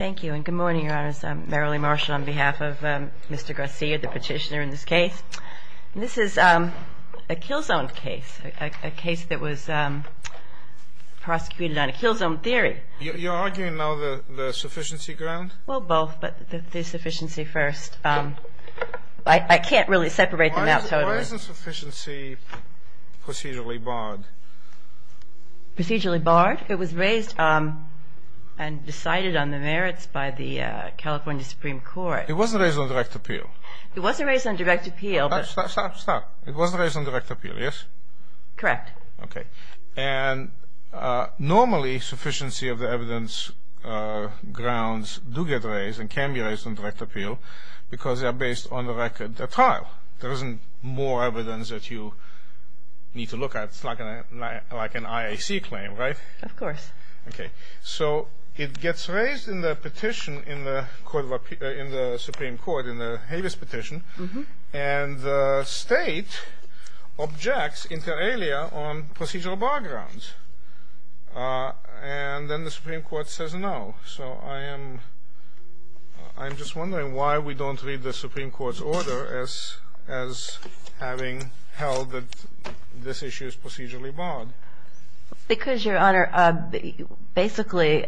Thank you, and good morning, your honors. I'm Marilee Marshall on behalf of Mr. Garcia, the petitioner in this case. This is a kill zone case, a case that was prosecuted on a kill zone theory. You're arguing now the sufficiency ground? Well, both, but the sufficiency first. I can't really separate them out totally. Why isn't sufficiency procedurally barred? Procedurally barred? It was raised and decided on the merits by the California Supreme Court. It wasn't raised on direct appeal. It wasn't raised on direct appeal. Stop, stop, stop. It wasn't raised on direct appeal, yes? Correct. Okay. And normally, sufficiency of the evidence grounds do get raised and can be raised on direct appeal because they are based on the record of the trial. There isn't more evidence that you need to look at. It's like an IAC claim, right? Of course. Okay. So it gets raised in the petition in the Supreme Court, in the Havis petition, and the state objects inter alia on procedural bar grounds. And then the Supreme Court says no. So I am just wondering why we don't read the Supreme Court's order as having held that this issue is procedurally barred. Because, Your Honor, basically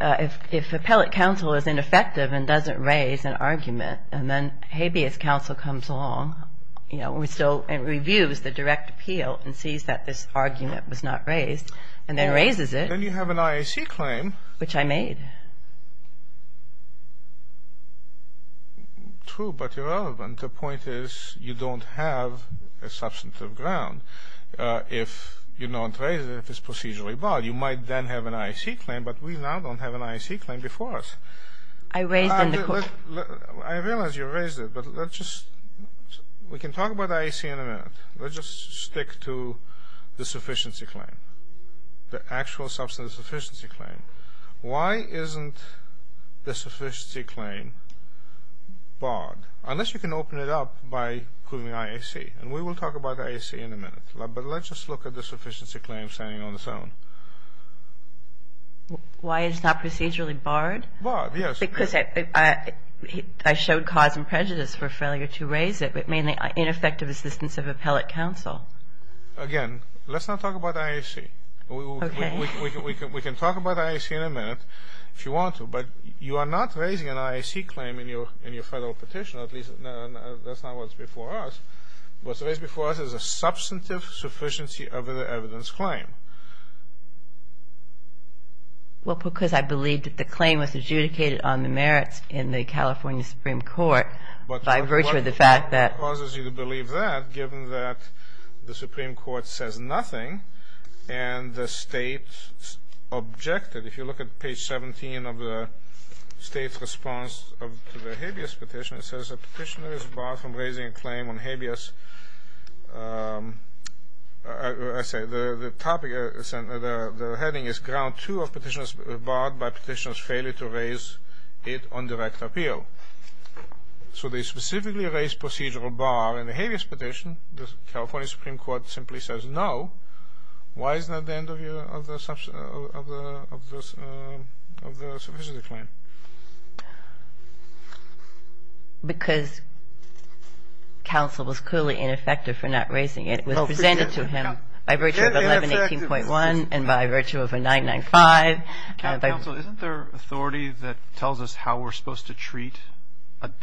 if appellate counsel is ineffective and doesn't raise an argument and then habeas counsel comes along, you know, and reviews the direct appeal and sees that this argument was not raised and then raises it. Then you have an IAC claim. Which I made. True, but irrelevant. The point is you don't have a substantive ground if you don't raise it, if it's procedurally barred. You might then have an IAC claim, but we now don't have an IAC claim before us. I raised it in the court. I realize you raised it, but let's just, we can talk about the IAC in a minute. Let's just stick to the sufficiency claim. The actual substantive sufficiency claim. Why isn't the sufficiency claim barred? Unless you can open it up by proving IAC. And we will talk about IAC in a minute. But let's just look at the sufficiency claim standing on its own. Why it's not procedurally barred? Barred, yes. Because I showed cause and prejudice for failure to raise it, but mainly ineffective assistance of appellate counsel. Again, let's not talk about IAC. Okay. We can talk about IAC in a minute if you want to. But you are not raising an IAC claim in your federal petition, at least that's not what's before us. What's raised before us is a substantive sufficiency of the evidence claim. Well, because I believe that the claim was adjudicated on the merits in the California Supreme Court by virtue of the fact that. But what causes you to believe that, given that the Supreme Court says nothing and the state objected? If you look at page 17 of the state's response to the habeas petition, it says a petitioner is barred from raising a claim on habeas. The heading is ground two of petitioners barred by petitioners' failure to raise it on direct appeal. So they specifically raised procedural bar in the habeas petition. The California Supreme Court simply says no. Why is that the end of the sufficiency claim? Because counsel was clearly ineffective for not raising it. It was presented to him by virtue of 1118.1 and by virtue of a 995. Counsel, isn't there authority that tells us how we're supposed to treat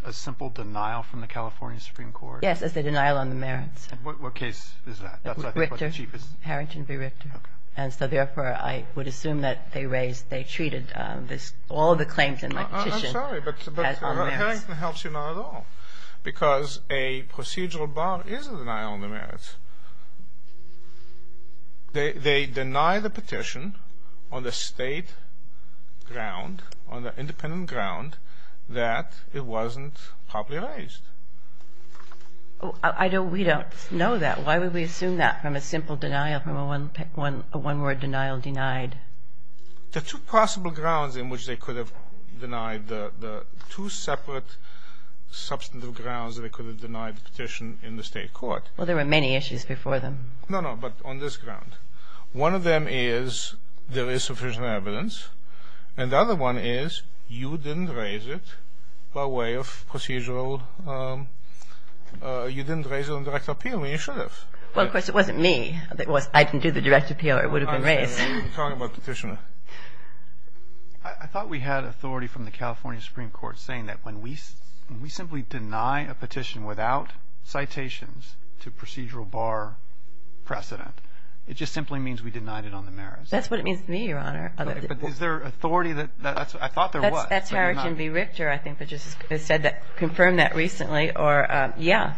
a simple denial from the California Supreme Court? Yes, as a denial on the merits. What case is that? That's what I think was the cheapest. Harrington v. Richter. Okay. And so, therefore, I would assume that they raised, they treated all the claims in my petition as on merits. I'm sorry, but Harrington helps you not at all, because a procedural bar is a denial on the merits. They deny the petition on the state ground, on the independent ground, that it wasn't properly raised. We don't know that. Why would we assume that from a simple denial, from a one-word denial denied? There are two possible grounds in which they could have denied, the two separate substantive grounds that they could have denied the petition in the state court. Well, there were many issues before them. No, no, but on this ground. One of them is there is sufficient evidence, and the other one is you didn't raise it by way of procedural, you didn't raise it on direct appeal. I mean, you should have. Well, of course, it wasn't me. If it was I can do the direct appeal, it would have been raised. I'm talking about petitioner. I thought we had authority from the California Supreme Court saying that when we simply deny a petition without citations to procedural bar precedent, it just simply means we denied it on the merits. That's what it means to me, Your Honor. Okay, but is there authority that that's what I thought there was. That's Harrington v. Richter, I think, that just said that confirmed that recently or, yeah,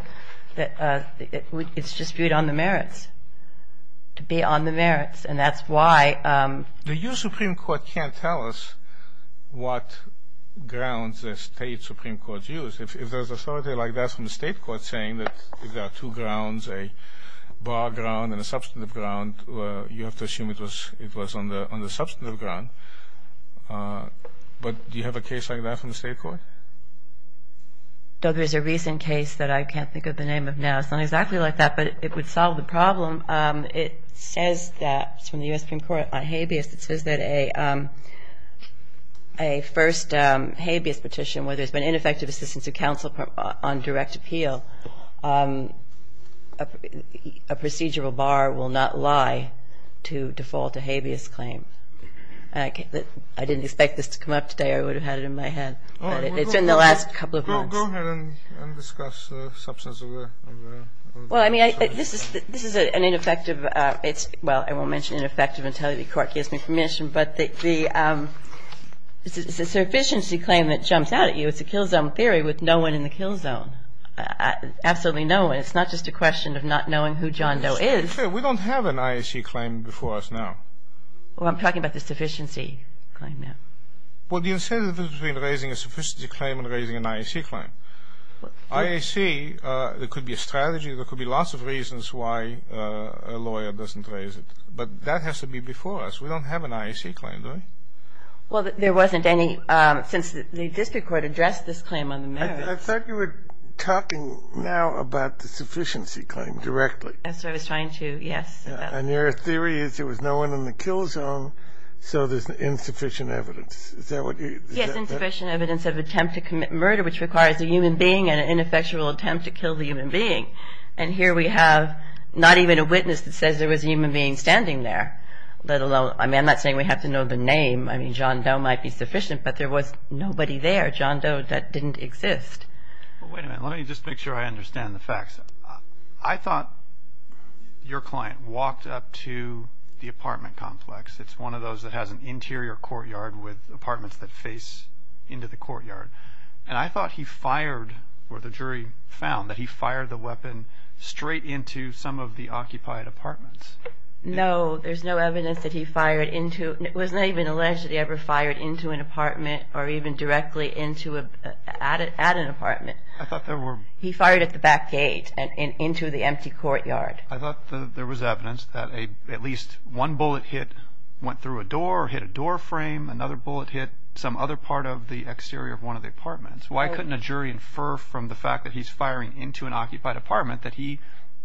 that it's disputed on the merits, to be on the merits, and that's why. The U.S. Supreme Court can't tell us what grounds the state supreme court used. If there's authority like that from the state court saying that there are two grounds, a bar ground and a substantive ground, you have to assume it was on the substantive ground. But do you have a case like that from the state court? Doug, there's a recent case that I can't think of the name of now. It's not exactly like that, but it would solve the problem. It says that it's from the U.S. Supreme Court on habeas. It says that a first habeas petition, where there's been ineffective assistance of counsel on direct appeal, a procedural bar will not lie to default a habeas claim. I didn't expect this to come up today. I would have had it in my head. It's been the last couple of months. Go ahead and discuss the substance of the claim. Well, I mean, this is an ineffective. Well, I won't mention ineffective until the court gives me permission. But the sufficiency claim that jumps out at you, it's a kill zone theory with no one in the kill zone. Absolutely no one. It's not just a question of not knowing who John Doe is. To be fair, we don't have an IAC claim before us now. Well, I'm talking about the sufficiency claim now. Well, the incentive is between raising a sufficiency claim and raising an IAC claim. IAC, there could be a strategy. There could be lots of reasons why a lawyer doesn't raise it. But that has to be before us. We don't have an IAC claim, do we? Well, there wasn't any since the district court addressed this claim on the merits. I thought you were talking now about the sufficiency claim directly. That's what I was trying to, yes. And your theory is there was no one in the kill zone, so there's insufficient evidence. Is that what you're saying? There's insufficient evidence of attempt to commit murder, which requires a human being and an ineffectual attempt to kill the human being. And here we have not even a witness that says there was a human being standing there, let alone. I mean, I'm not saying we have to know the name. I mean, John Doe might be sufficient, but there was nobody there, John Doe, that didn't exist. Well, wait a minute. Let me just make sure I understand the facts. I thought your client walked up to the apartment complex. It's one of those that has an interior courtyard with apartments that face into the courtyard. And I thought he fired, or the jury found, that he fired the weapon straight into some of the occupied apartments. No, there's no evidence that he fired into. It was not even alleged that he ever fired into an apartment or even directly at an apartment. I thought there were. He fired at the back gate and into the empty courtyard. I thought there was evidence that at least one bullet hit, went through a door, hit a door frame. Another bullet hit some other part of the exterior of one of the apartments. Why couldn't a jury infer from the fact that he's firing into an occupied apartment that he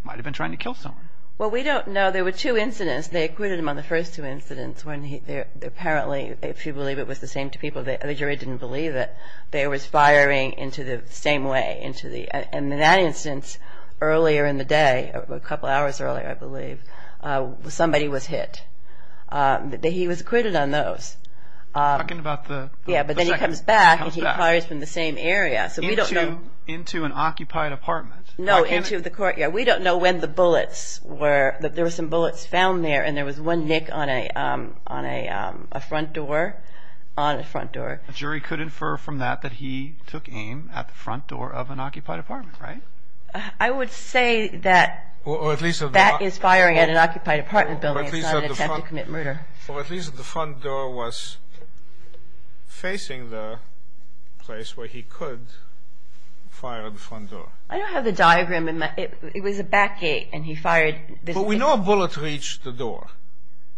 might have been trying to kill someone? Well, we don't know. There were two incidents. They acquitted him on the first two incidents when apparently, if you believe it was the same two people, the jury didn't believe it. They were firing into the same way. And in that instance, earlier in the day, a couple hours earlier, I believe, somebody was hit. He was acquitted on those. Talking about the second. Yeah, but then he comes back and he fires from the same area. Into an occupied apartment. No, into the courtyard. We don't know when the bullets were. There were some bullets found there and there was one nick on a front door. A jury could infer from that that he took aim at the front door of an occupied apartment, right? I would say that that is firing at an occupied apartment building. It's not an attempt to commit murder. Or at least the front door was facing the place where he could fire at the front door. I don't have the diagram. It was a back gate and he fired. But we know a bullet reached the door.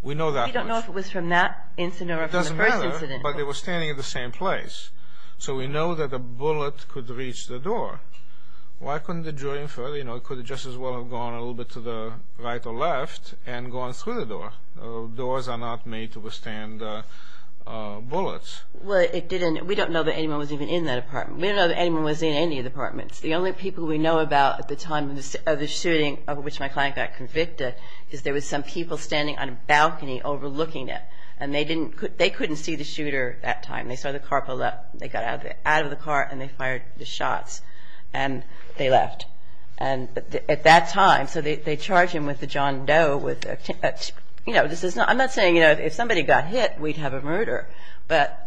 We know that. We don't know if it was from that incident or from the first incident. It doesn't matter. But they were standing at the same place. So we know that a bullet could reach the door. Why couldn't the jury infer? It could just as well have gone a little bit to the right or left and gone through the door. Doors are not made to withstand bullets. Well, it didn't. We don't know that anyone was even in that apartment. We don't know that anyone was in any of the apartments. The only people we know about at the time of the shooting of which my client got convicted is there was some people standing on a balcony overlooking it. And they couldn't see the shooter at that time. They saw the car pull up. They got out of the car and they fired the shots. And they left. At that time, so they charged him with a John Doe. I'm not saying if somebody got hit, we'd have a murder. But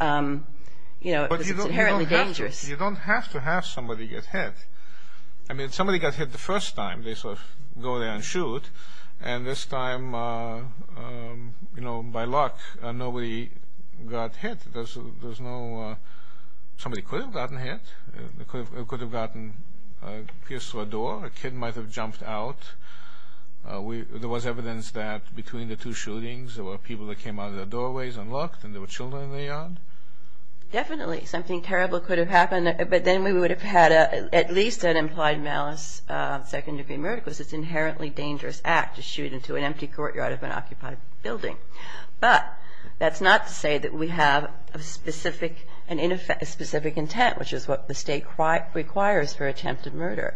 it's inherently dangerous. But you don't have to have somebody get hit. I mean, if somebody got hit the first time, they sort of go there and shoot. And this time, you know, by luck, nobody got hit. There's no – somebody could have gotten hit. It could have gotten pierced through a door. A kid might have jumped out. There was evidence that between the two shootings, there were people that came out of the doorways unlocked and there were children in the yard. Definitely something terrible could have happened. But then we would have had at least an implied malice second-degree murder because it's an inherently dangerous act to shoot into an empty courtyard of an occupied building. But that's not to say that we have a specific intent, which is what the state requires for attempted murder.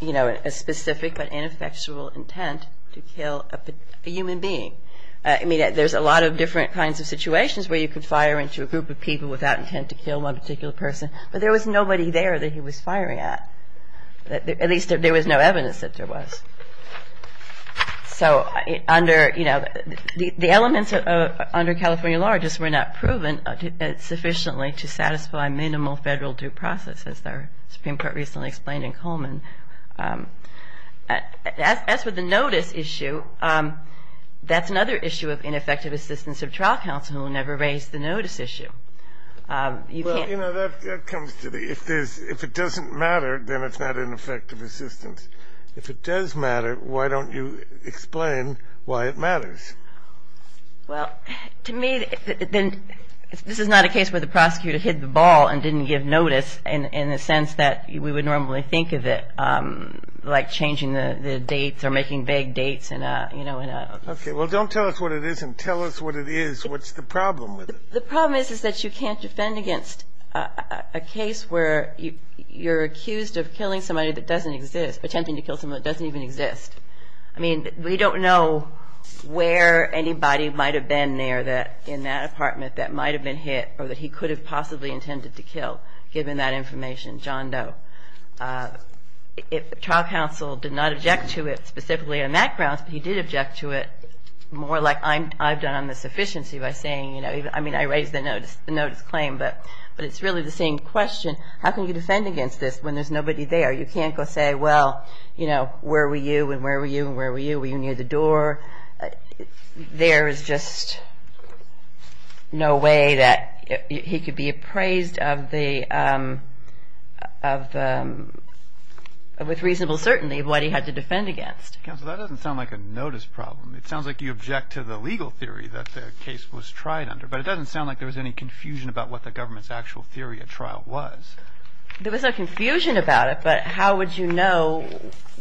You know, a specific but ineffectual intent to kill a human being. I mean, there's a lot of different kinds of situations where you could fire into a group of people without intent to kill one particular person. But there was nobody there that he was firing at. At least there was no evidence that there was. So under – you know, the elements under California law just were not proven sufficiently to satisfy minimal federal due process, as the Supreme Court recently explained in Coleman. As for the notice issue, that's another issue of ineffective assistance of trial counsel who never raised the notice issue. Well, you know, that comes to the – if it doesn't matter, then it's not ineffective assistance. If it does matter, why don't you explain why it matters? Well, to me, this is not a case where the prosecutor hit the ball and didn't give notice in the sense that we would normally think of it like changing the dates or making vague dates. Okay. Well, don't tell us what it is and tell us what it is. What's the problem with it? The problem is, is that you can't defend against a case where you're accused of killing somebody that doesn't exist, attempting to kill somebody that doesn't even exist. I mean, we don't know where anybody might have been there in that apartment that might have been hit or that he could have possibly intended to kill, given that information, John Doe. If trial counsel did not object to it specifically on that grounds, he did object to it more like I've done on the sufficiency by saying, you know, I mean, I raised the notice claim, but it's really the same question. How can you defend against this when there's nobody there? You can't go say, well, you know, where were you and where were you and where were you? Were you near the door? There is just no way that he could be appraised with reasonable certainty of what he had to defend against. Counsel, that doesn't sound like a notice problem. It sounds like you object to the legal theory that the case was tried under, but it doesn't sound like there was any confusion about what the government's actual theory of trial was. There was no confusion about it, but how would you know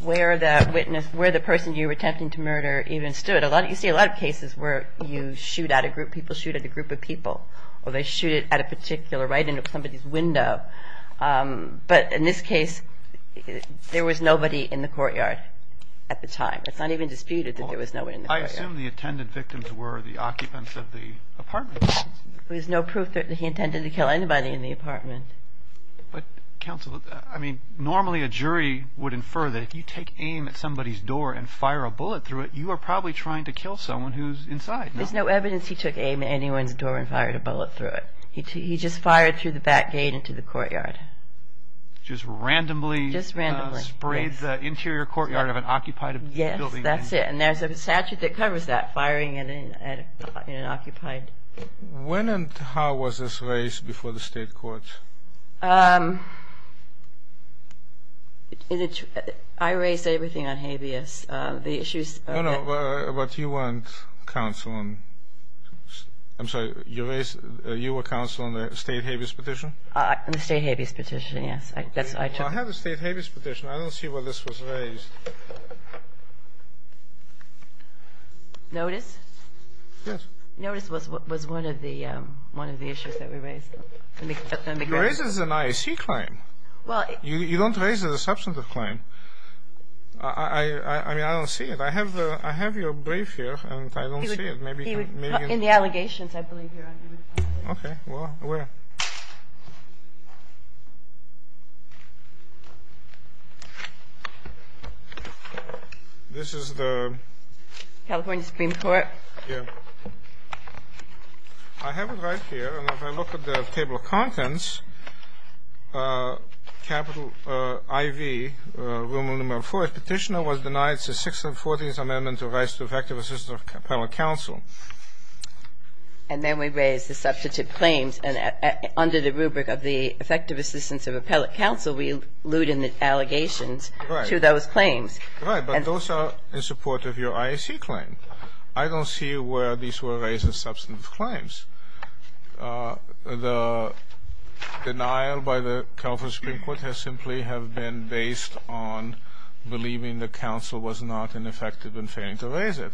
where the witness, where the person you were attempting to murder even stood? You see a lot of cases where you shoot at a group, people shoot at a group of people, or they shoot at a particular, right into somebody's window. But in this case, there was nobody in the courtyard at the time. It's not even disputed that there was nobody in the courtyard. I assume the attendant victims were the occupants of the apartment. There's no proof that he intended to kill anybody in the apartment. But, counsel, I mean, normally a jury would infer that if you take aim at somebody's door and fire a bullet through it, you are probably trying to kill someone who's inside. There's no evidence he took aim at anyone's door and fired a bullet through it. He just fired through the back gate into the courtyard. Just randomly sprayed the interior courtyard of an occupied apartment? Yes, that's it, and there's a statute that covers that, firing at an occupied. When and how was this raised before the state court? I raised everything on habeas. No, no, but you weren't counsel on, I'm sorry, you raised, you were counsel on the state habeas petition? The state habeas petition, yes. Well, I have the state habeas petition. I don't see where this was raised. Notice? Yes. Notice was one of the issues that we raised. It raises an IAC claim. You don't raise a deceptive claim. I mean, I don't see it. I have your brief here, and I don't see it. In the allegations, I believe, you're on your own. Okay. Well, where? This is the? California Supreme Court. Yes. I have it right here, and if I look at the table of contents, capital IV, rule number four, if petitioner was denied since 6th and 14th Amendment to the Rights to Effective Assistance of Appellate Counsel. And then we raise the substantive claims. And under the rubric of the Effective Assistance of Appellate Counsel, we allude in the allegations to those claims. Right. But those are in support of your IAC claim. I don't see where these were raised as substantive claims. The denial by the California Supreme Court has simply have been based on believing the counsel was not ineffective in failing to raise it.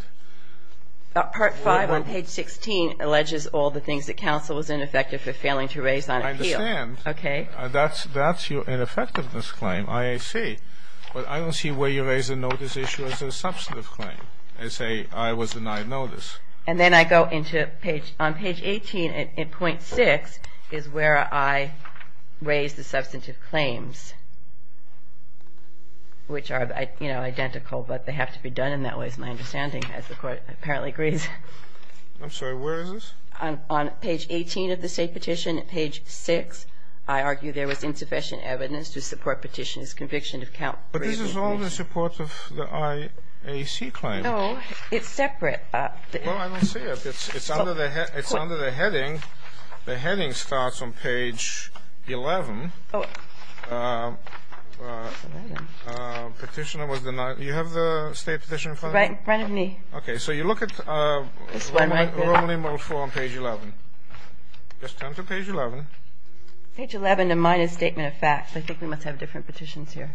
Part five on page 16 alleges all the things that counsel was ineffective for failing to raise on appeal. I understand. Okay. That's your ineffectiveness claim, IAC. But I don't see where you raise the notice issue as a substantive claim and say I was denied notice. And then I go into page 18.6 is where I raise the substantive claims, which are, you know, identical, but they have to be done in that way, which is my understanding as the Court apparently agrees. I'm sorry. Where is this? On page 18 of the State Petition. Page 6, I argue there was insufficient evidence to support Petitioner's conviction of count-raising. But this is all in support of the IAC claim. No. It's separate. Well, I don't see it. It's under the heading. The heading starts on page 11. Oh. Petitioner was denied. You have the State Petition in front of you? Right in front of me. Okay. So you look at Romani-Mulfo on page 11. Just turn to page 11. Page 11, a minor statement of facts. I think we must have different petitions here.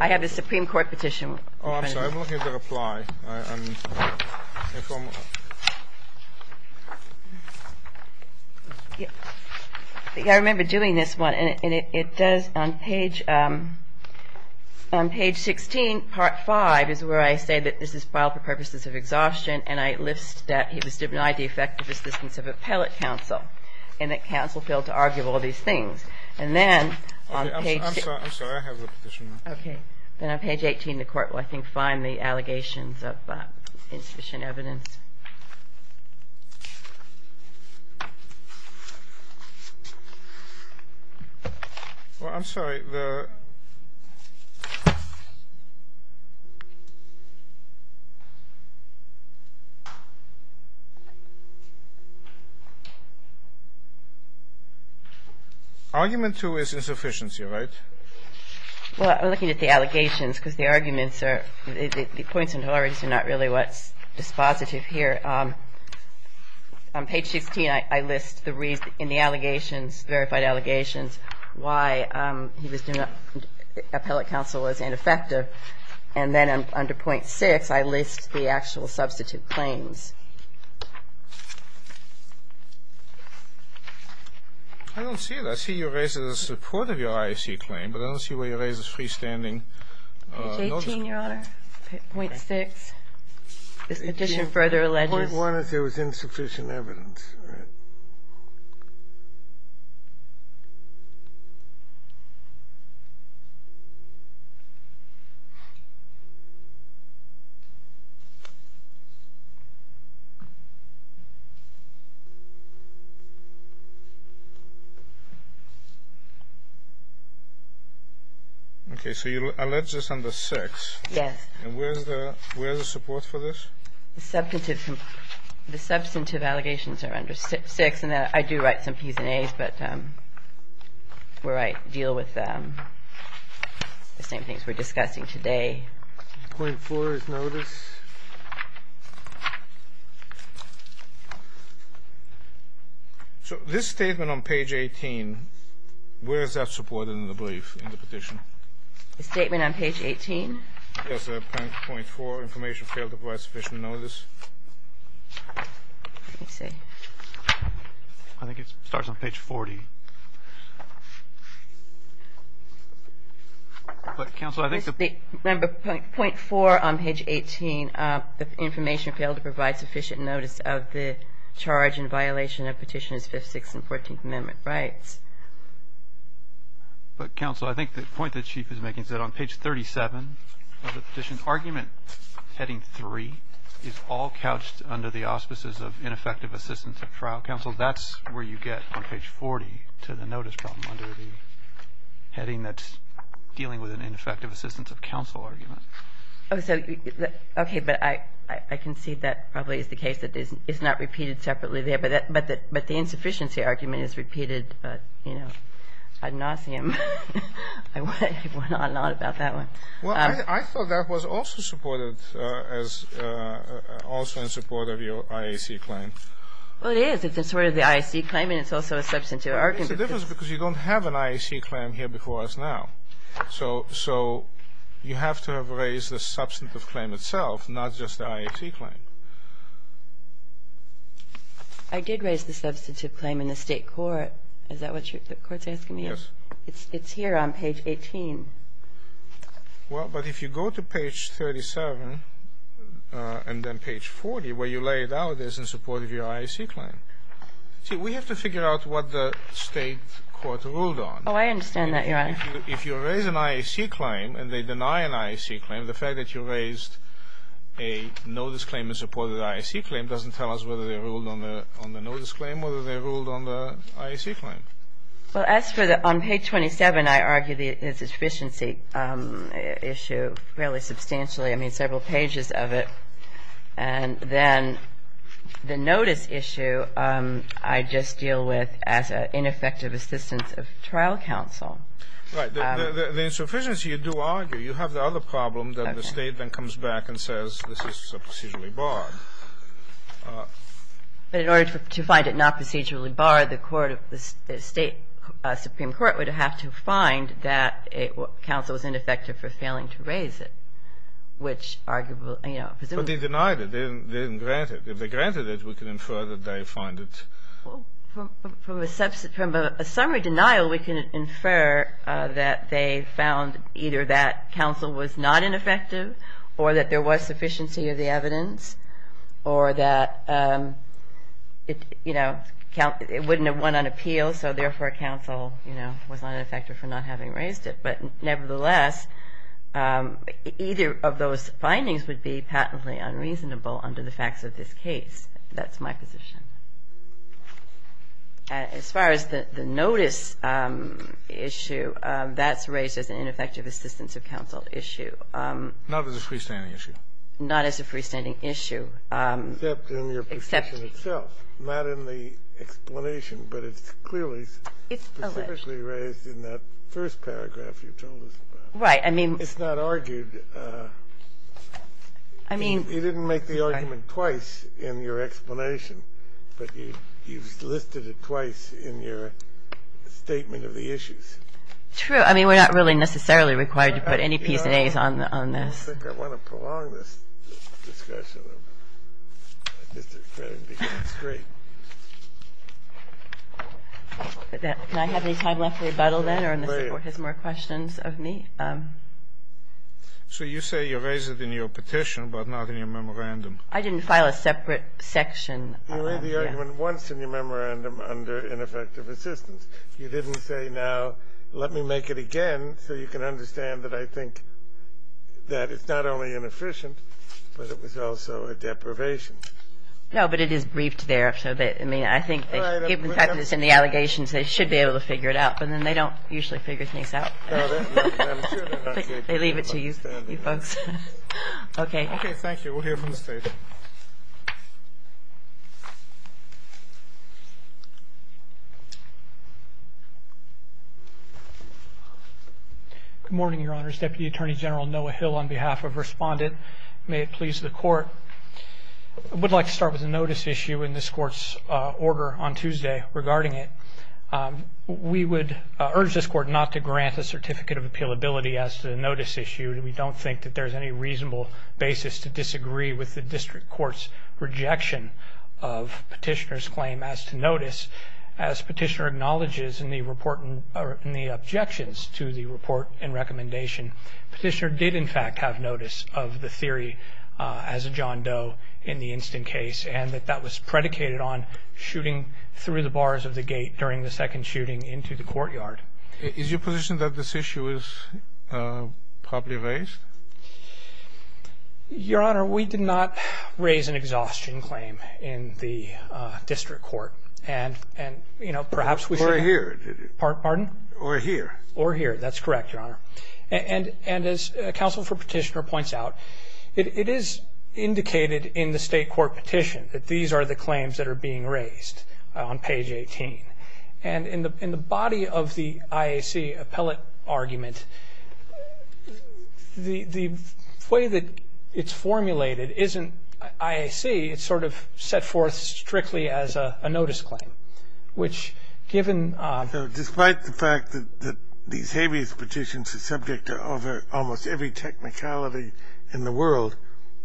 I have the Supreme Court petition. Oh, I'm sorry. I'm looking at the reply. I remember doing this one, and it does on page 16, part 5, is where I say that this is filed for purposes of exhaustion, and I list that he was denied the effective assistance of appellate counsel and that counsel failed to argue all these things. And then on page 18, the Court will, I think, find the allegations of insufficient evidence. Well, I'm sorry. The argument, too, is insufficiency, right? Well, I'm looking at the allegations, because the arguments are, the points on tolerances are not really what's dispositive here. On page 16, I list in the allegations, verified allegations, why he was denied appellate counsel was ineffective. And then under point 6, I list the actual substitute claims. I don't see it. I see you raised it in support of your IAC claim, but I don't see where you raised his freestanding. Page 18, Your Honor. Point 6. This petition further alleges. One is there was insufficient evidence. Okay. So you allege this under 6. Yes. And where's the support for this? The substantive allegations are under 6. And I do write some Ps and As, but where I deal with the same things we're discussing today. Point 4 is notice. So this statement on page 18, where is that supported in the brief, in the petition? The statement on page 18? Yes. Point 4, information failed to provide sufficient notice. Let me see. I think it starts on page 40. But, counsel, I think the point 4 on page 18, the information failed to provide sufficient notice of the charge in violation of Petitioners 5th, 6th, and 14th Amendment rights. But, counsel, I think the point the Chief is making is that on page 37, of the petition, argument heading 3 is all couched under the auspices of ineffective assistance of trial counsel. That's where you get on page 40 to the notice problem under the heading that's dealing with an ineffective assistance of counsel argument. Okay. But I concede that probably is the case, that it's not repeated separately there. But the insufficiency argument is repeated, you know, ad nauseam. I went on and on about that one. Well, I thought that was also supported as also in support of your IAC claim. Well, it is. It's in support of the IAC claim, and it's also a substantive argument. But there's a difference because you don't have an IAC claim here before us now. So you have to have raised the substantive claim itself, not just the IAC claim. I did raise the substantive claim in the State court. Is that what the Court's asking me? Yes. It's here on page 18. Well, but if you go to page 37 and then page 40, where you lay it out, it is in support of your IAC claim. See, we have to figure out what the State court ruled on. Oh, I understand that, Your Honor. If you raise an IAC claim and they deny an IAC claim, the fact that you raised a notice claim in support of the IAC claim doesn't tell us whether they ruled on the notice claim or whether they ruled on the IAC claim. Well, as for the — on page 27, I argue the insufficiency issue fairly substantially. I mean, several pages of it. And then the notice issue, I just deal with as ineffective assistance of trial counsel. Right. The insufficiency, you do argue. You have the other problem that the State then comes back and says this is procedurally barred. But in order to find it not procedurally barred, the court — the State Supreme Court would have to find that counsel was ineffective for failing to raise it, which arguably, you know — But they denied it. They didn't grant it. If they granted it, we can infer that they find it — From a summary denial, we can infer that they found either that counsel was not ineffective or that there was sufficiency of the evidence or that, you know, it wouldn't have won on appeal, so therefore counsel, you know, was not ineffective for not having raised it. But nevertheless, either of those findings would be patently unreasonable under the facts of this case. That's my position. As far as the notice issue, that's raised as an ineffective assistance of counsel issue. Not as a freestanding issue. Not as a freestanding issue. Except in your position itself. Not in the explanation, but it's clearly specifically raised in that first paragraph you told us about. Right. I mean — It's not argued. I mean — You didn't make the argument twice in your explanation, but you listed it twice in your statement of the issues. True. I mean, we're not really necessarily required to put any Ps and As on this. I don't think I want to prolong this discussion of Mr. Crane because it's great. Can I have any time left for rebuttal, then, or unless the Court has more questions of me? So you say you raised it in your petition, but not in your memorandum. I didn't file a separate section. You made the argument once in your memorandum under ineffective assistance. You didn't say, now, let me make it again so you can understand that I think that it's not only inefficient, but it was also a deprivation. No, but it is briefed there. I mean, I think, given the fact that it's in the allegations, they should be able to figure it out. But then they don't usually figure things out. No, I'm sure they don't. They leave it to you folks. Okay. Okay, thank you. We'll hear from the State. Good morning, Your Honors. Deputy Attorney General Noah Hill on behalf of Respondent. May it please the Court. I would like to start with a notice issue in this Court's order on Tuesday regarding it. We would urge this Court not to grant a certificate of appealability as to the notice issue. We don't think that there's any reasonable basis to disagree with the District Court's rejection of Petitioner's claim as to notice. As Petitioner acknowledges in the objections to the report and recommendation, Petitioner did, in fact, have notice of the theory as a John Doe in the instant case and that that was predicated on shooting through the bars of the gate during the second shooting into the courtyard. Is your position that this issue is properly raised? Your Honor, we did not raise an exhaustion claim in the District Court. And, you know, perhaps we should. Or here. Pardon? Or here. Or here. That's correct, Your Honor. And as Counsel for Petitioner points out, it is indicated in the State Court petition that these are the claims that are being raised on page 18. And in the body of the IAC appellate argument, the way that it's formulated isn't IAC. It's sort of set forth strictly as a notice claim, which, given the fact that these habeas petitions are subject to almost every technicality in the world,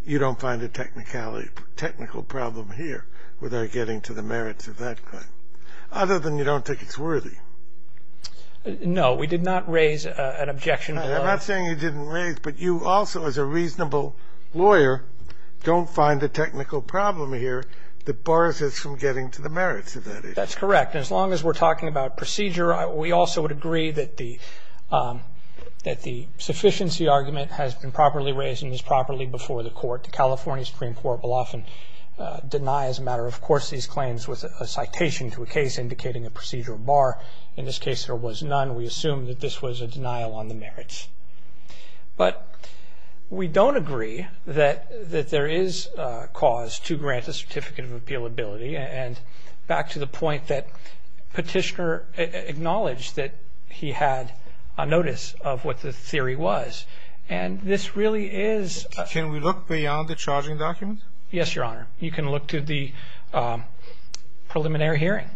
you don't find a technical problem here without getting to the merits of that claim, other than you don't think it's worthy. No, we did not raise an objection. I'm not saying you didn't raise, but you also, as a reasonable lawyer, don't find a technical problem here that bars us from getting to the merits of that issue. That's correct. As long as we're talking about procedure, we also would agree that the sufficiency argument has been properly raised and is properly before the Court. The California Supreme Court will often deny as a matter of course these claims with a citation to a case indicating a procedural bar. In this case, there was none. We assume that this was a denial on the merits. But we don't agree that there is cause to grant a Certificate of Appealability, and back to the point that Petitioner acknowledged that he had a notice of what the theory was. And this really is a... Can we look beyond the charging document? Yes, Your Honor. You can look to the preliminary hearing.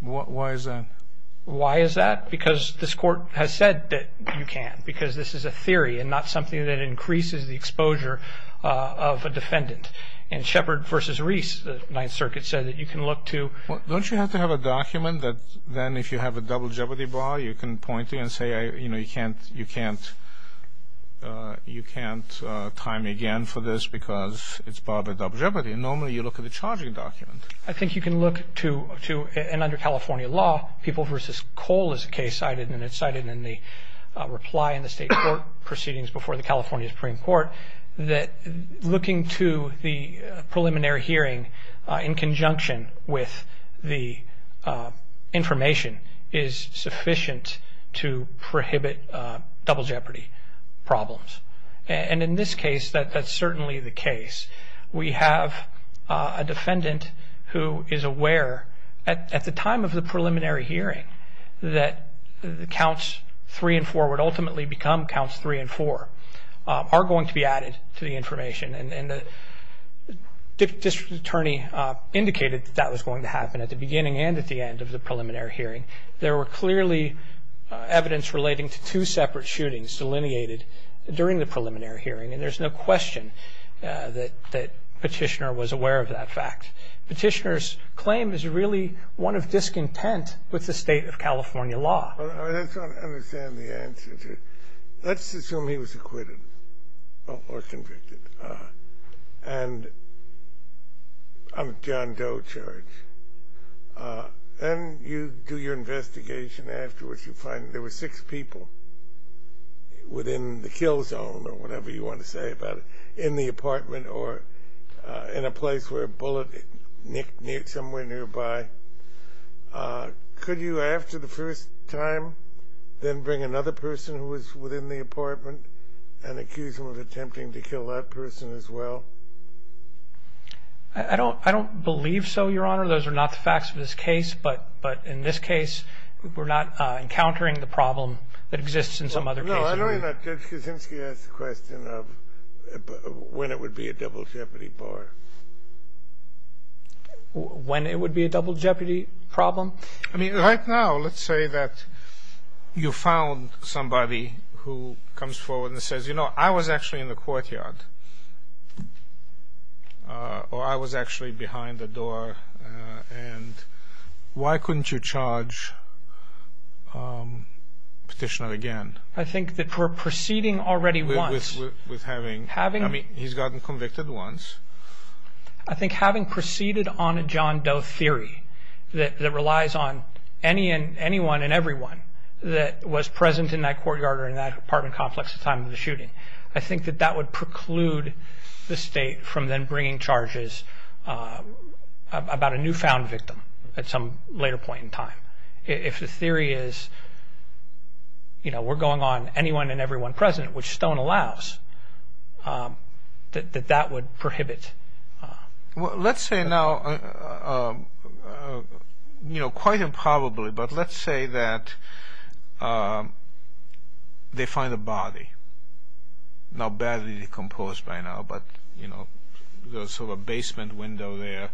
Why is that? Why is that? Because this Court has said that you can, because this is a theory and not something that increases the exposure of a defendant. In Shepard v. Reese, the Ninth Circuit said that you can look to... Don't you have to have a document that then, if you have a double jeopardy bar, you can point to and say, you know, you can't time again for this because it's barred by double jeopardy? Normally, you look at the charging document. I think you can look to, and under California law, People v. Cole is a case cited, and it's cited in the reply in the State Court proceedings before the California Supreme Court, that looking to the preliminary hearing in conjunction with the information is sufficient to prohibit double jeopardy problems. And in this case, that's certainly the case. We have a defendant who is aware at the time of the preliminary hearing that counts three and four would ultimately become counts three and four are going to be added to the information, and the district attorney indicated that that was going to happen at the beginning and at the end of the preliminary hearing. There were clearly evidence relating to two separate shootings delineated during the preliminary hearing, and there's no question that Petitioner was aware of that fact. Petitioner's claim is really one of discontent with the state of California law. Let's assume he was acquitted or convicted, and John Doe charged, and you do your investigation afterwards. You find there were six people within the kill zone, or whatever you want to say about it, in the apartment or in a place where a bullet nicked somewhere nearby. Could you, after the first time, then bring another person who was within the apartment and accuse them of attempting to kill that person as well? I don't believe so, Your Honor. Those are not the facts of this case. But in this case, we're not encountering the problem that exists in some other cases. No, I don't mean that. Judge Kuczynski asked the question of when it would be a double jeopardy bar. When it would be a double jeopardy problem? I mean, right now, let's say that you found somebody who comes forward and says, you know, I was actually in the courtyard, or I was actually behind the door, and why couldn't you charge Petitioner again? I think that we're proceeding already once. With having, I mean, he's gotten convicted once. I think having proceeded on a John Doe theory that relies on anyone and everyone that was present in that courtyard or in that apartment complex at the time of the shooting, I think that that would preclude the State from then bringing charges about a newfound victim at some later point in time. If the theory is, you know, we're going on anyone and everyone precedent, which Stone allows, that that would prohibit. Well, let's say now, you know, quite improbably, but let's say that they find a body, now badly decomposed by now, but, you know, there's sort of a basement window there,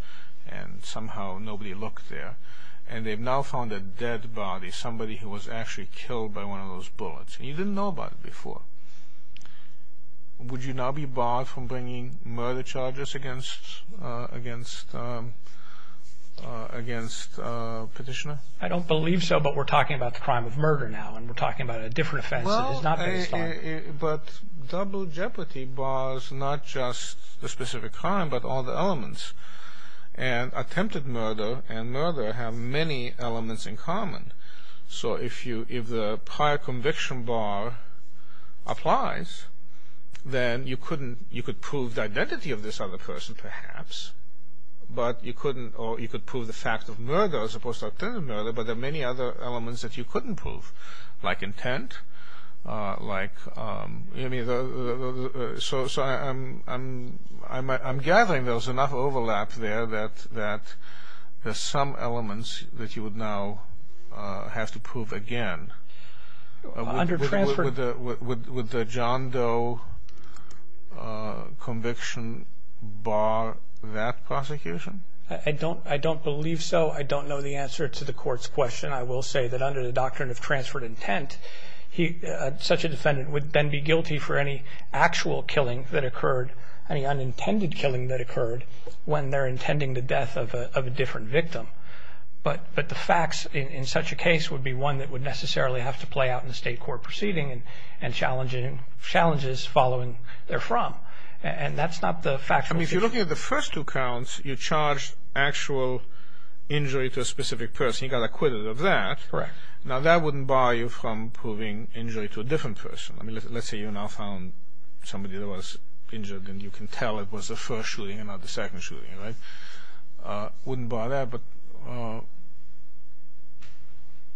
and somehow nobody looked there, and they've now found a dead body, somebody who was actually killed by one of those bullets, and you didn't know about it before. Would you now be barred from bringing murder charges against Petitioner? I don't believe so, but we're talking about the crime of murder now, and we're talking about a different offense that is not based on... Well, but double jeopardy bars not just the specific crime, but all the elements. And attempted murder and murder have many elements in common. So if the prior conviction bar applies, then you could prove the identity of this other person, perhaps, but you couldn't, or you could prove the fact of murder as opposed to attempted murder, but there are many other elements that you couldn't prove, like intent, like, you know what I mean? So I'm gathering there was enough overlap there that there's some elements that you would now have to prove again. Would the John Doe conviction bar that prosecution? I don't believe so. I don't know the answer to the Court's question. I will say that under the doctrine of transferred intent, such a defendant would then be guilty for any actual killing that occurred, any unintended killing that occurred when they're intending the death of a different victim. But the facts in such a case would be one that would necessarily have to play out in a state court proceeding and challenges following therefrom. And that's not the factual... I mean, if you're looking at the first two counts, you charged actual injury to a specific person. You got acquitted of that. Correct. Now, that wouldn't bar you from proving injury to a different person. I mean, let's say you now found somebody that was injured and you can tell it was the first shooting and not the second shooting, right? Wouldn't bar that, but...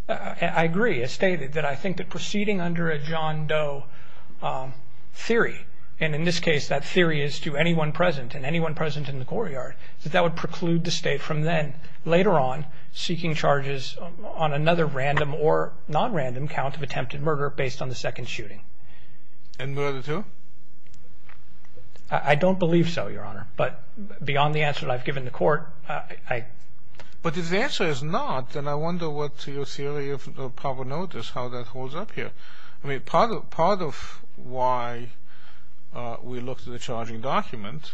I agree. It's stated that I think that proceeding under a John Doe theory, and in this case that theory is to anyone present and anyone present in the courtyard, that that would preclude the state from then, later on, And murder too? I don't believe so, Your Honor. But beyond the answer that I've given the court, I... But if the answer is not, then I wonder what your theory of proper note is, how that holds up here. I mean, part of why we looked at the charging document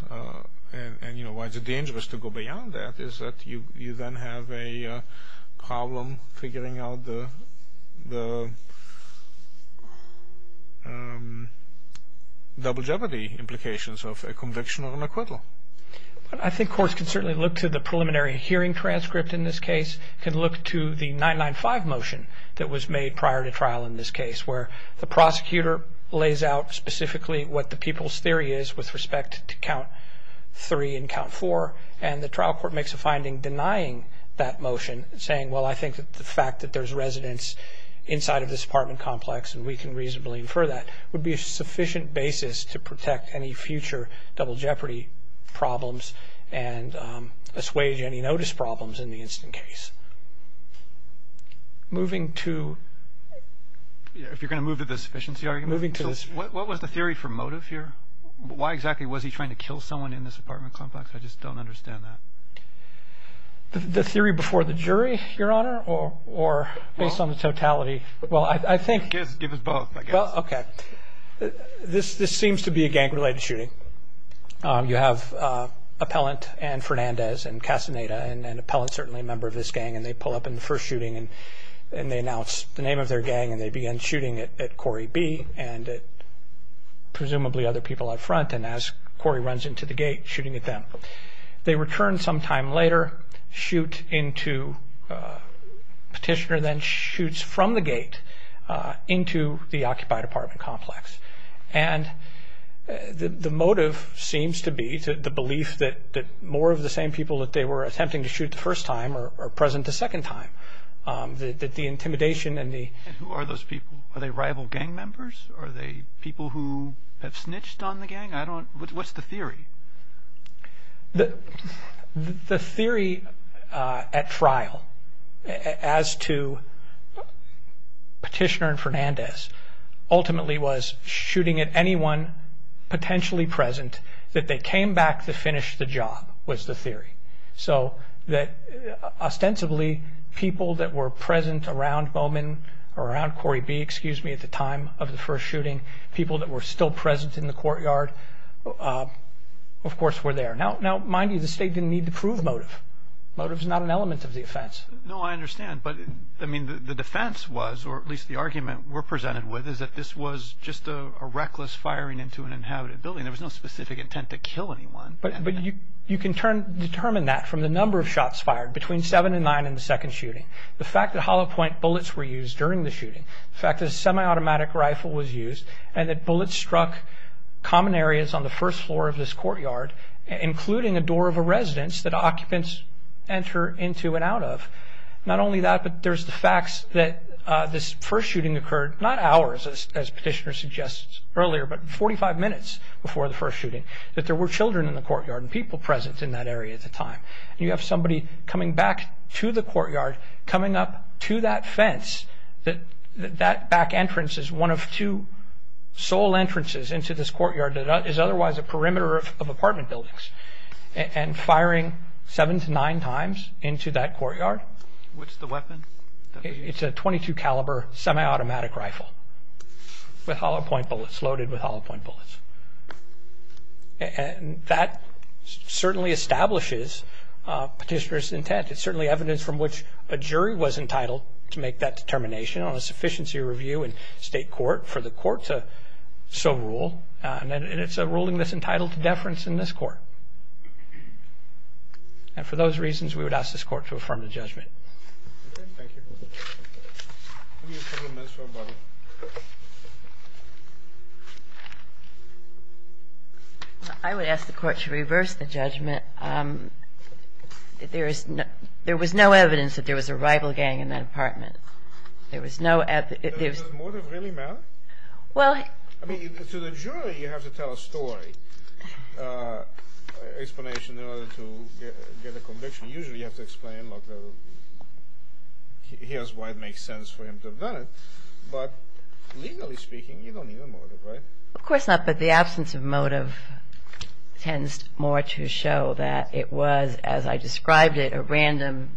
and why it's dangerous to go beyond that is that you then have a problem figuring out the double jeopardy implications of a conviction or an acquittal. I think courts can certainly look to the preliminary hearing transcript in this case, can look to the 995 motion that was made prior to trial in this case, where the prosecutor lays out specifically what the people's theory is with respect to count three and count four, and the trial court makes a finding denying that motion, saying, well, I think that the fact that there's residents inside of this apartment complex and we can reasonably infer that, would be a sufficient basis to protect any future double jeopardy problems and assuage any notice problems in the instant case. Moving to... If you're going to move to the sufficiency argument? Moving to the... What was the theory for motive here? Why exactly was he trying to kill someone in this apartment complex? I just don't understand that. The theory before the jury, Your Honor, or based on the totality? Well, I think... Give us both, I guess. Well, okay. This seems to be a gang-related shooting. You have Appellant and Fernandez and Castaneda, and Appellant's certainly a member of this gang, and they pull up in the first shooting and they announce the name of their gang and they begin shooting at Corey B. and presumably other people out front, and as Corey runs into the gate, shooting at them. They return some time later, shoot into... Petitioner then shoots from the gate into the occupied apartment complex. And the motive seems to be the belief that more of the same people that they were attempting to shoot the first time are present the second time. That the intimidation and the... Are they people who have snitched on the gang? I don't... What's the theory? The theory at trial as to Petitioner and Fernandez ultimately was shooting at anyone potentially present that they came back to finish the job was the theory. So that ostensibly people that were present around Bowman, or around Corey B, excuse me, at the time of the first shooting, people that were still present in the courtyard, of course, were there. Now, mind you, the state didn't need to prove motive. Motive's not an element of the offense. No, I understand. But, I mean, the defense was, or at least the argument we're presented with, is that this was just a reckless firing into an inhabited building. There was no specific intent to kill anyone. But you can determine that from the number of shots fired between seven and nine in the second shooting. The fact that hollow-point bullets were used during the shooting, the fact that a semi-automatic rifle was used, and that bullets struck common areas on the first floor of this courtyard, including a door of a residence that occupants enter into and out of. Not only that, but there's the facts that this first shooting occurred, not hours, as Petitioner suggests, earlier, but 45 minutes before the first shooting, that there were children in the courtyard and people present in that area at the time. And you have somebody coming back to the courtyard, coming up to that fence, that that back entrance is one of two sole entrances into this courtyard that is otherwise a perimeter of apartment buildings, and firing seven to nine times into that courtyard. What's the weapon? It's a .22-caliber semi-automatic rifle with hollow-point bullets, loaded with hollow-point bullets. And that certainly establishes Petitioner's intent. It's certainly evidence from which a jury was entitled to make that determination on a sufficiency review in state court for the court to so rule, and it's a ruling that's entitled to deference in this court. And for those reasons, we would ask this court to affirm the judgment. Thank you. Give me a couple of minutes for a bubble. I would ask the court to reverse the judgment. There was no evidence that there was a rival gang in that apartment. There was no evidence. Does the motive really matter? I mean, to the jury, you have to tell a story, an explanation in order to get a conviction. Usually you have to explain, look, here's why it makes sense for him to have done it. But legally speaking, you don't need a motive, right? Of course not, but the absence of motive tends more to show that it was, as I described it, a random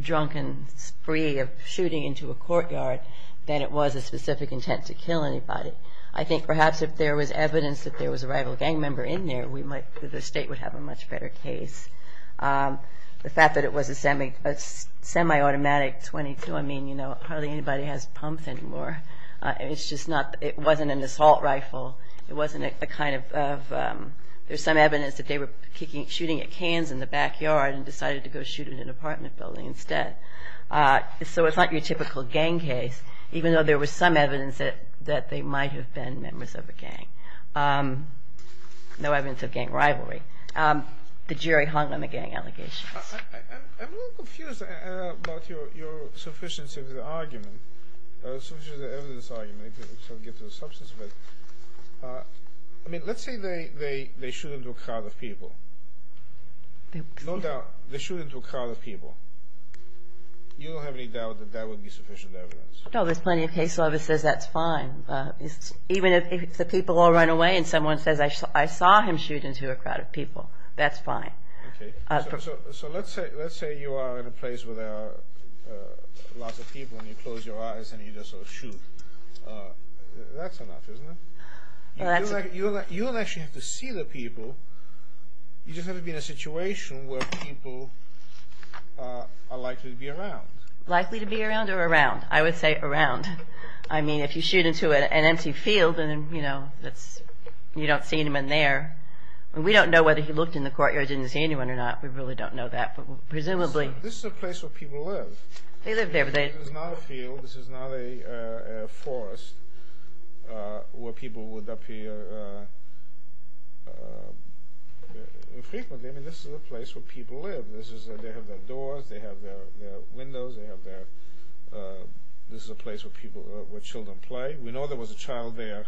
drunken spree of shooting into a courtyard than it was a specific intent to kill anybody. I think perhaps if there was evidence that there was a rival gang member in there, the State would have a much better case. The fact that it was a semi-automatic .22, I mean, you know, hardly anybody has pumps anymore. It's just not, it wasn't an assault rifle. It wasn't a kind of, there's some evidence that they were shooting at cans in the backyard and decided to go shoot at an apartment building instead. So it's not your typical gang case, even though there was some evidence that they might have been members of a gang. No evidence of gang rivalry. The jury hung on the gang allegations. I'm a little confused about your sufficiency of the argument, sufficiency of the evidence argument, if I can get to the substance of it. I mean, let's say they shoot into a crowd of people. No doubt, they shoot into a crowd of people. You don't have any doubt that that would be sufficient evidence? No, there's plenty of case law that says that's fine. Even if the people all run away and someone says, I saw him shoot into a crowd of people, that's fine. So let's say you are in a place where there are lots of people and you close your eyes and you just sort of shoot. That's enough, isn't it? You don't actually have to see the people. You just have to be in a situation where people are likely to be around. Likely to be around or around? I would say around. I mean, if you shoot into an empty field, you don't see anyone there. We don't know whether he looked in the courtyard and didn't see anyone or not. We really don't know that, but presumably... This is a place where people live. They live there, but they... This is not a field. This is not a forest where people would appear infrequently. I mean, this is a place where people live. They have their doors. They have their windows. This is a place where children play. We know there was a child there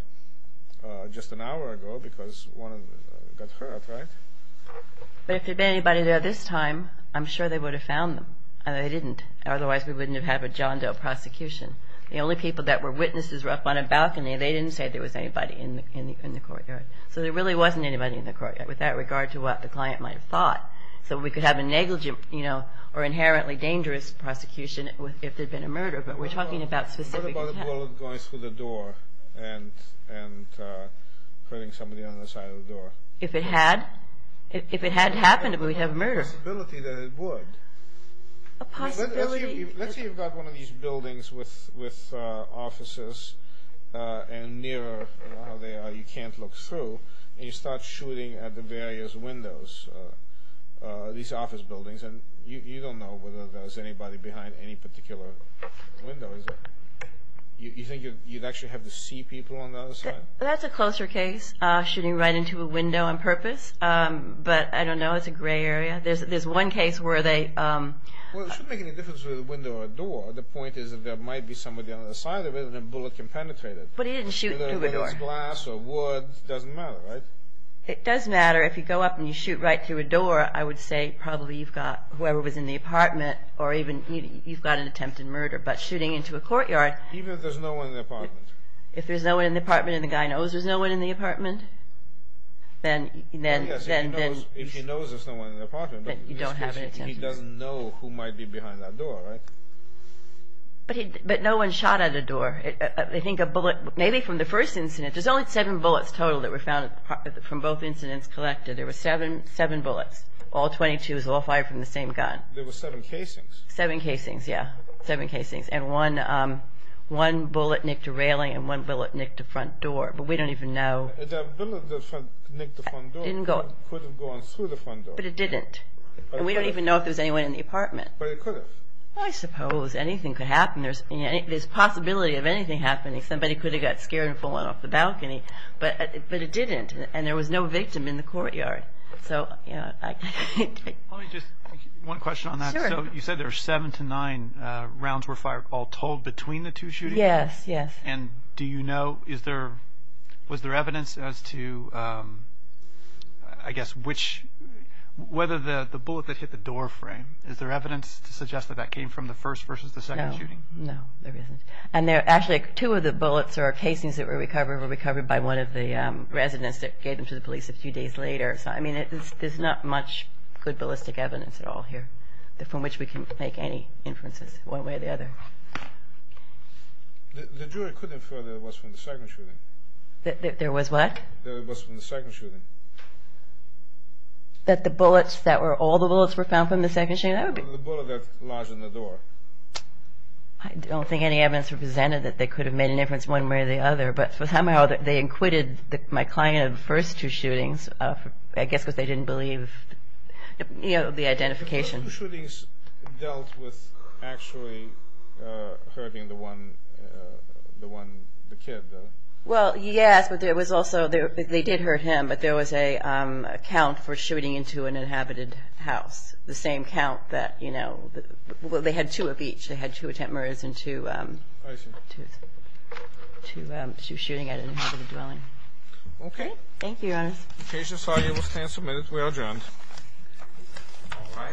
just an hour ago because one of them got hurt, right? But if there had been anybody there this time, I'm sure they would have found them. And they didn't. Otherwise, we wouldn't have had a John Doe prosecution. The only people that were witnesses were up on a balcony. They didn't say there was anybody in the courtyard. So there really wasn't anybody in the courtyard with that regard to what the client might have thought. So we could have a negligent or inherently dangerous prosecution if there had been a murder, but we're talking about specific... What if it were going through the door and hurting somebody on the side of the door? If it had? If it had happened, but we have... There's a possibility that it would. A possibility... Let's say you've got one of these buildings with offices and nearer how they are, you can't look through, and you start shooting at the various windows, these office buildings, and you don't know whether there's anybody behind any particular window, is there? You think you'd actually have to see people on the other side? That's a closer case, shooting right into a window on purpose. But I don't know. It's a gray area. There's one case where they... Well, it shouldn't make any difference whether it's a window or a door. The point is that there might be somebody on the other side of it, and a bullet can penetrate it. But he didn't shoot through the door. Whether it's glass or wood, it doesn't matter, right? It does matter. If you go up and you shoot right through a door, I would say probably you've got whoever was in the apartment, or even you've got an attempted murder. But shooting into a courtyard... Even if there's no one in the apartment. If there's no one in the apartment and the guy knows there's no one in the apartment, then... Yes, if he knows there's no one in the apartment, but in this case he doesn't know who might be behind that door, right? But no one shot at a door. I think a bullet... Maybe from the first incident, there's only seven bullets total that were found from both incidents collected. There were seven bullets. All 22 was all fired from the same gun. There were seven casings. Seven casings, yeah. Seven casings. And one bullet nicked a railing, and one bullet nicked a front door. But we don't even know... The bullet that nicked the front door could have gone through the front door. But it didn't. And we don't even know if there was anyone in the apartment. But it could have. I suppose. Anything could happen. There's a possibility of anything happening. Somebody could have got scared and fallen off the balcony. But it didn't. And there was no victim in the courtyard. So, you know, I... Let me just... One question on that. Sure. So you said there were seven to nine rounds were fired, all told between the two shootings? Yes, yes. And do you know, is there... Was there evidence as to, I guess, which... Whether the bullet that hit the door frame, is there evidence to suggest that that came from the first versus the second shooting? No. No, there isn't. And actually two of the bullets or casings that were recovered by one of the residents that gave them to the police a few days later. So, I mean, there's not much good ballistic evidence at all here from which we can make any inferences one way or the other. The jury could infer that it was from the second shooting. That there was what? That it was from the second shooting. That the bullets that were... All the bullets were found from the second shooting? The bullet that lodged in the door. I don't think any evidence represented that they could have made an inference one way or the other. But somehow they acquitted my client of the first two shootings. I guess because they didn't believe, you know, the identification. So the shootings dealt with actually hurting the one, the one, the kid? Well, yes. But there was also... They did hurt him. But there was a count for shooting into an inhabited house. The same count that, you know... Well, they had two of each. They had two attempt murders and two... I see. Two shooting at an inhabited dwelling. Okay. Thank you, Your Honor. The case is filed. You will stand submitted. We are adjourned. All right.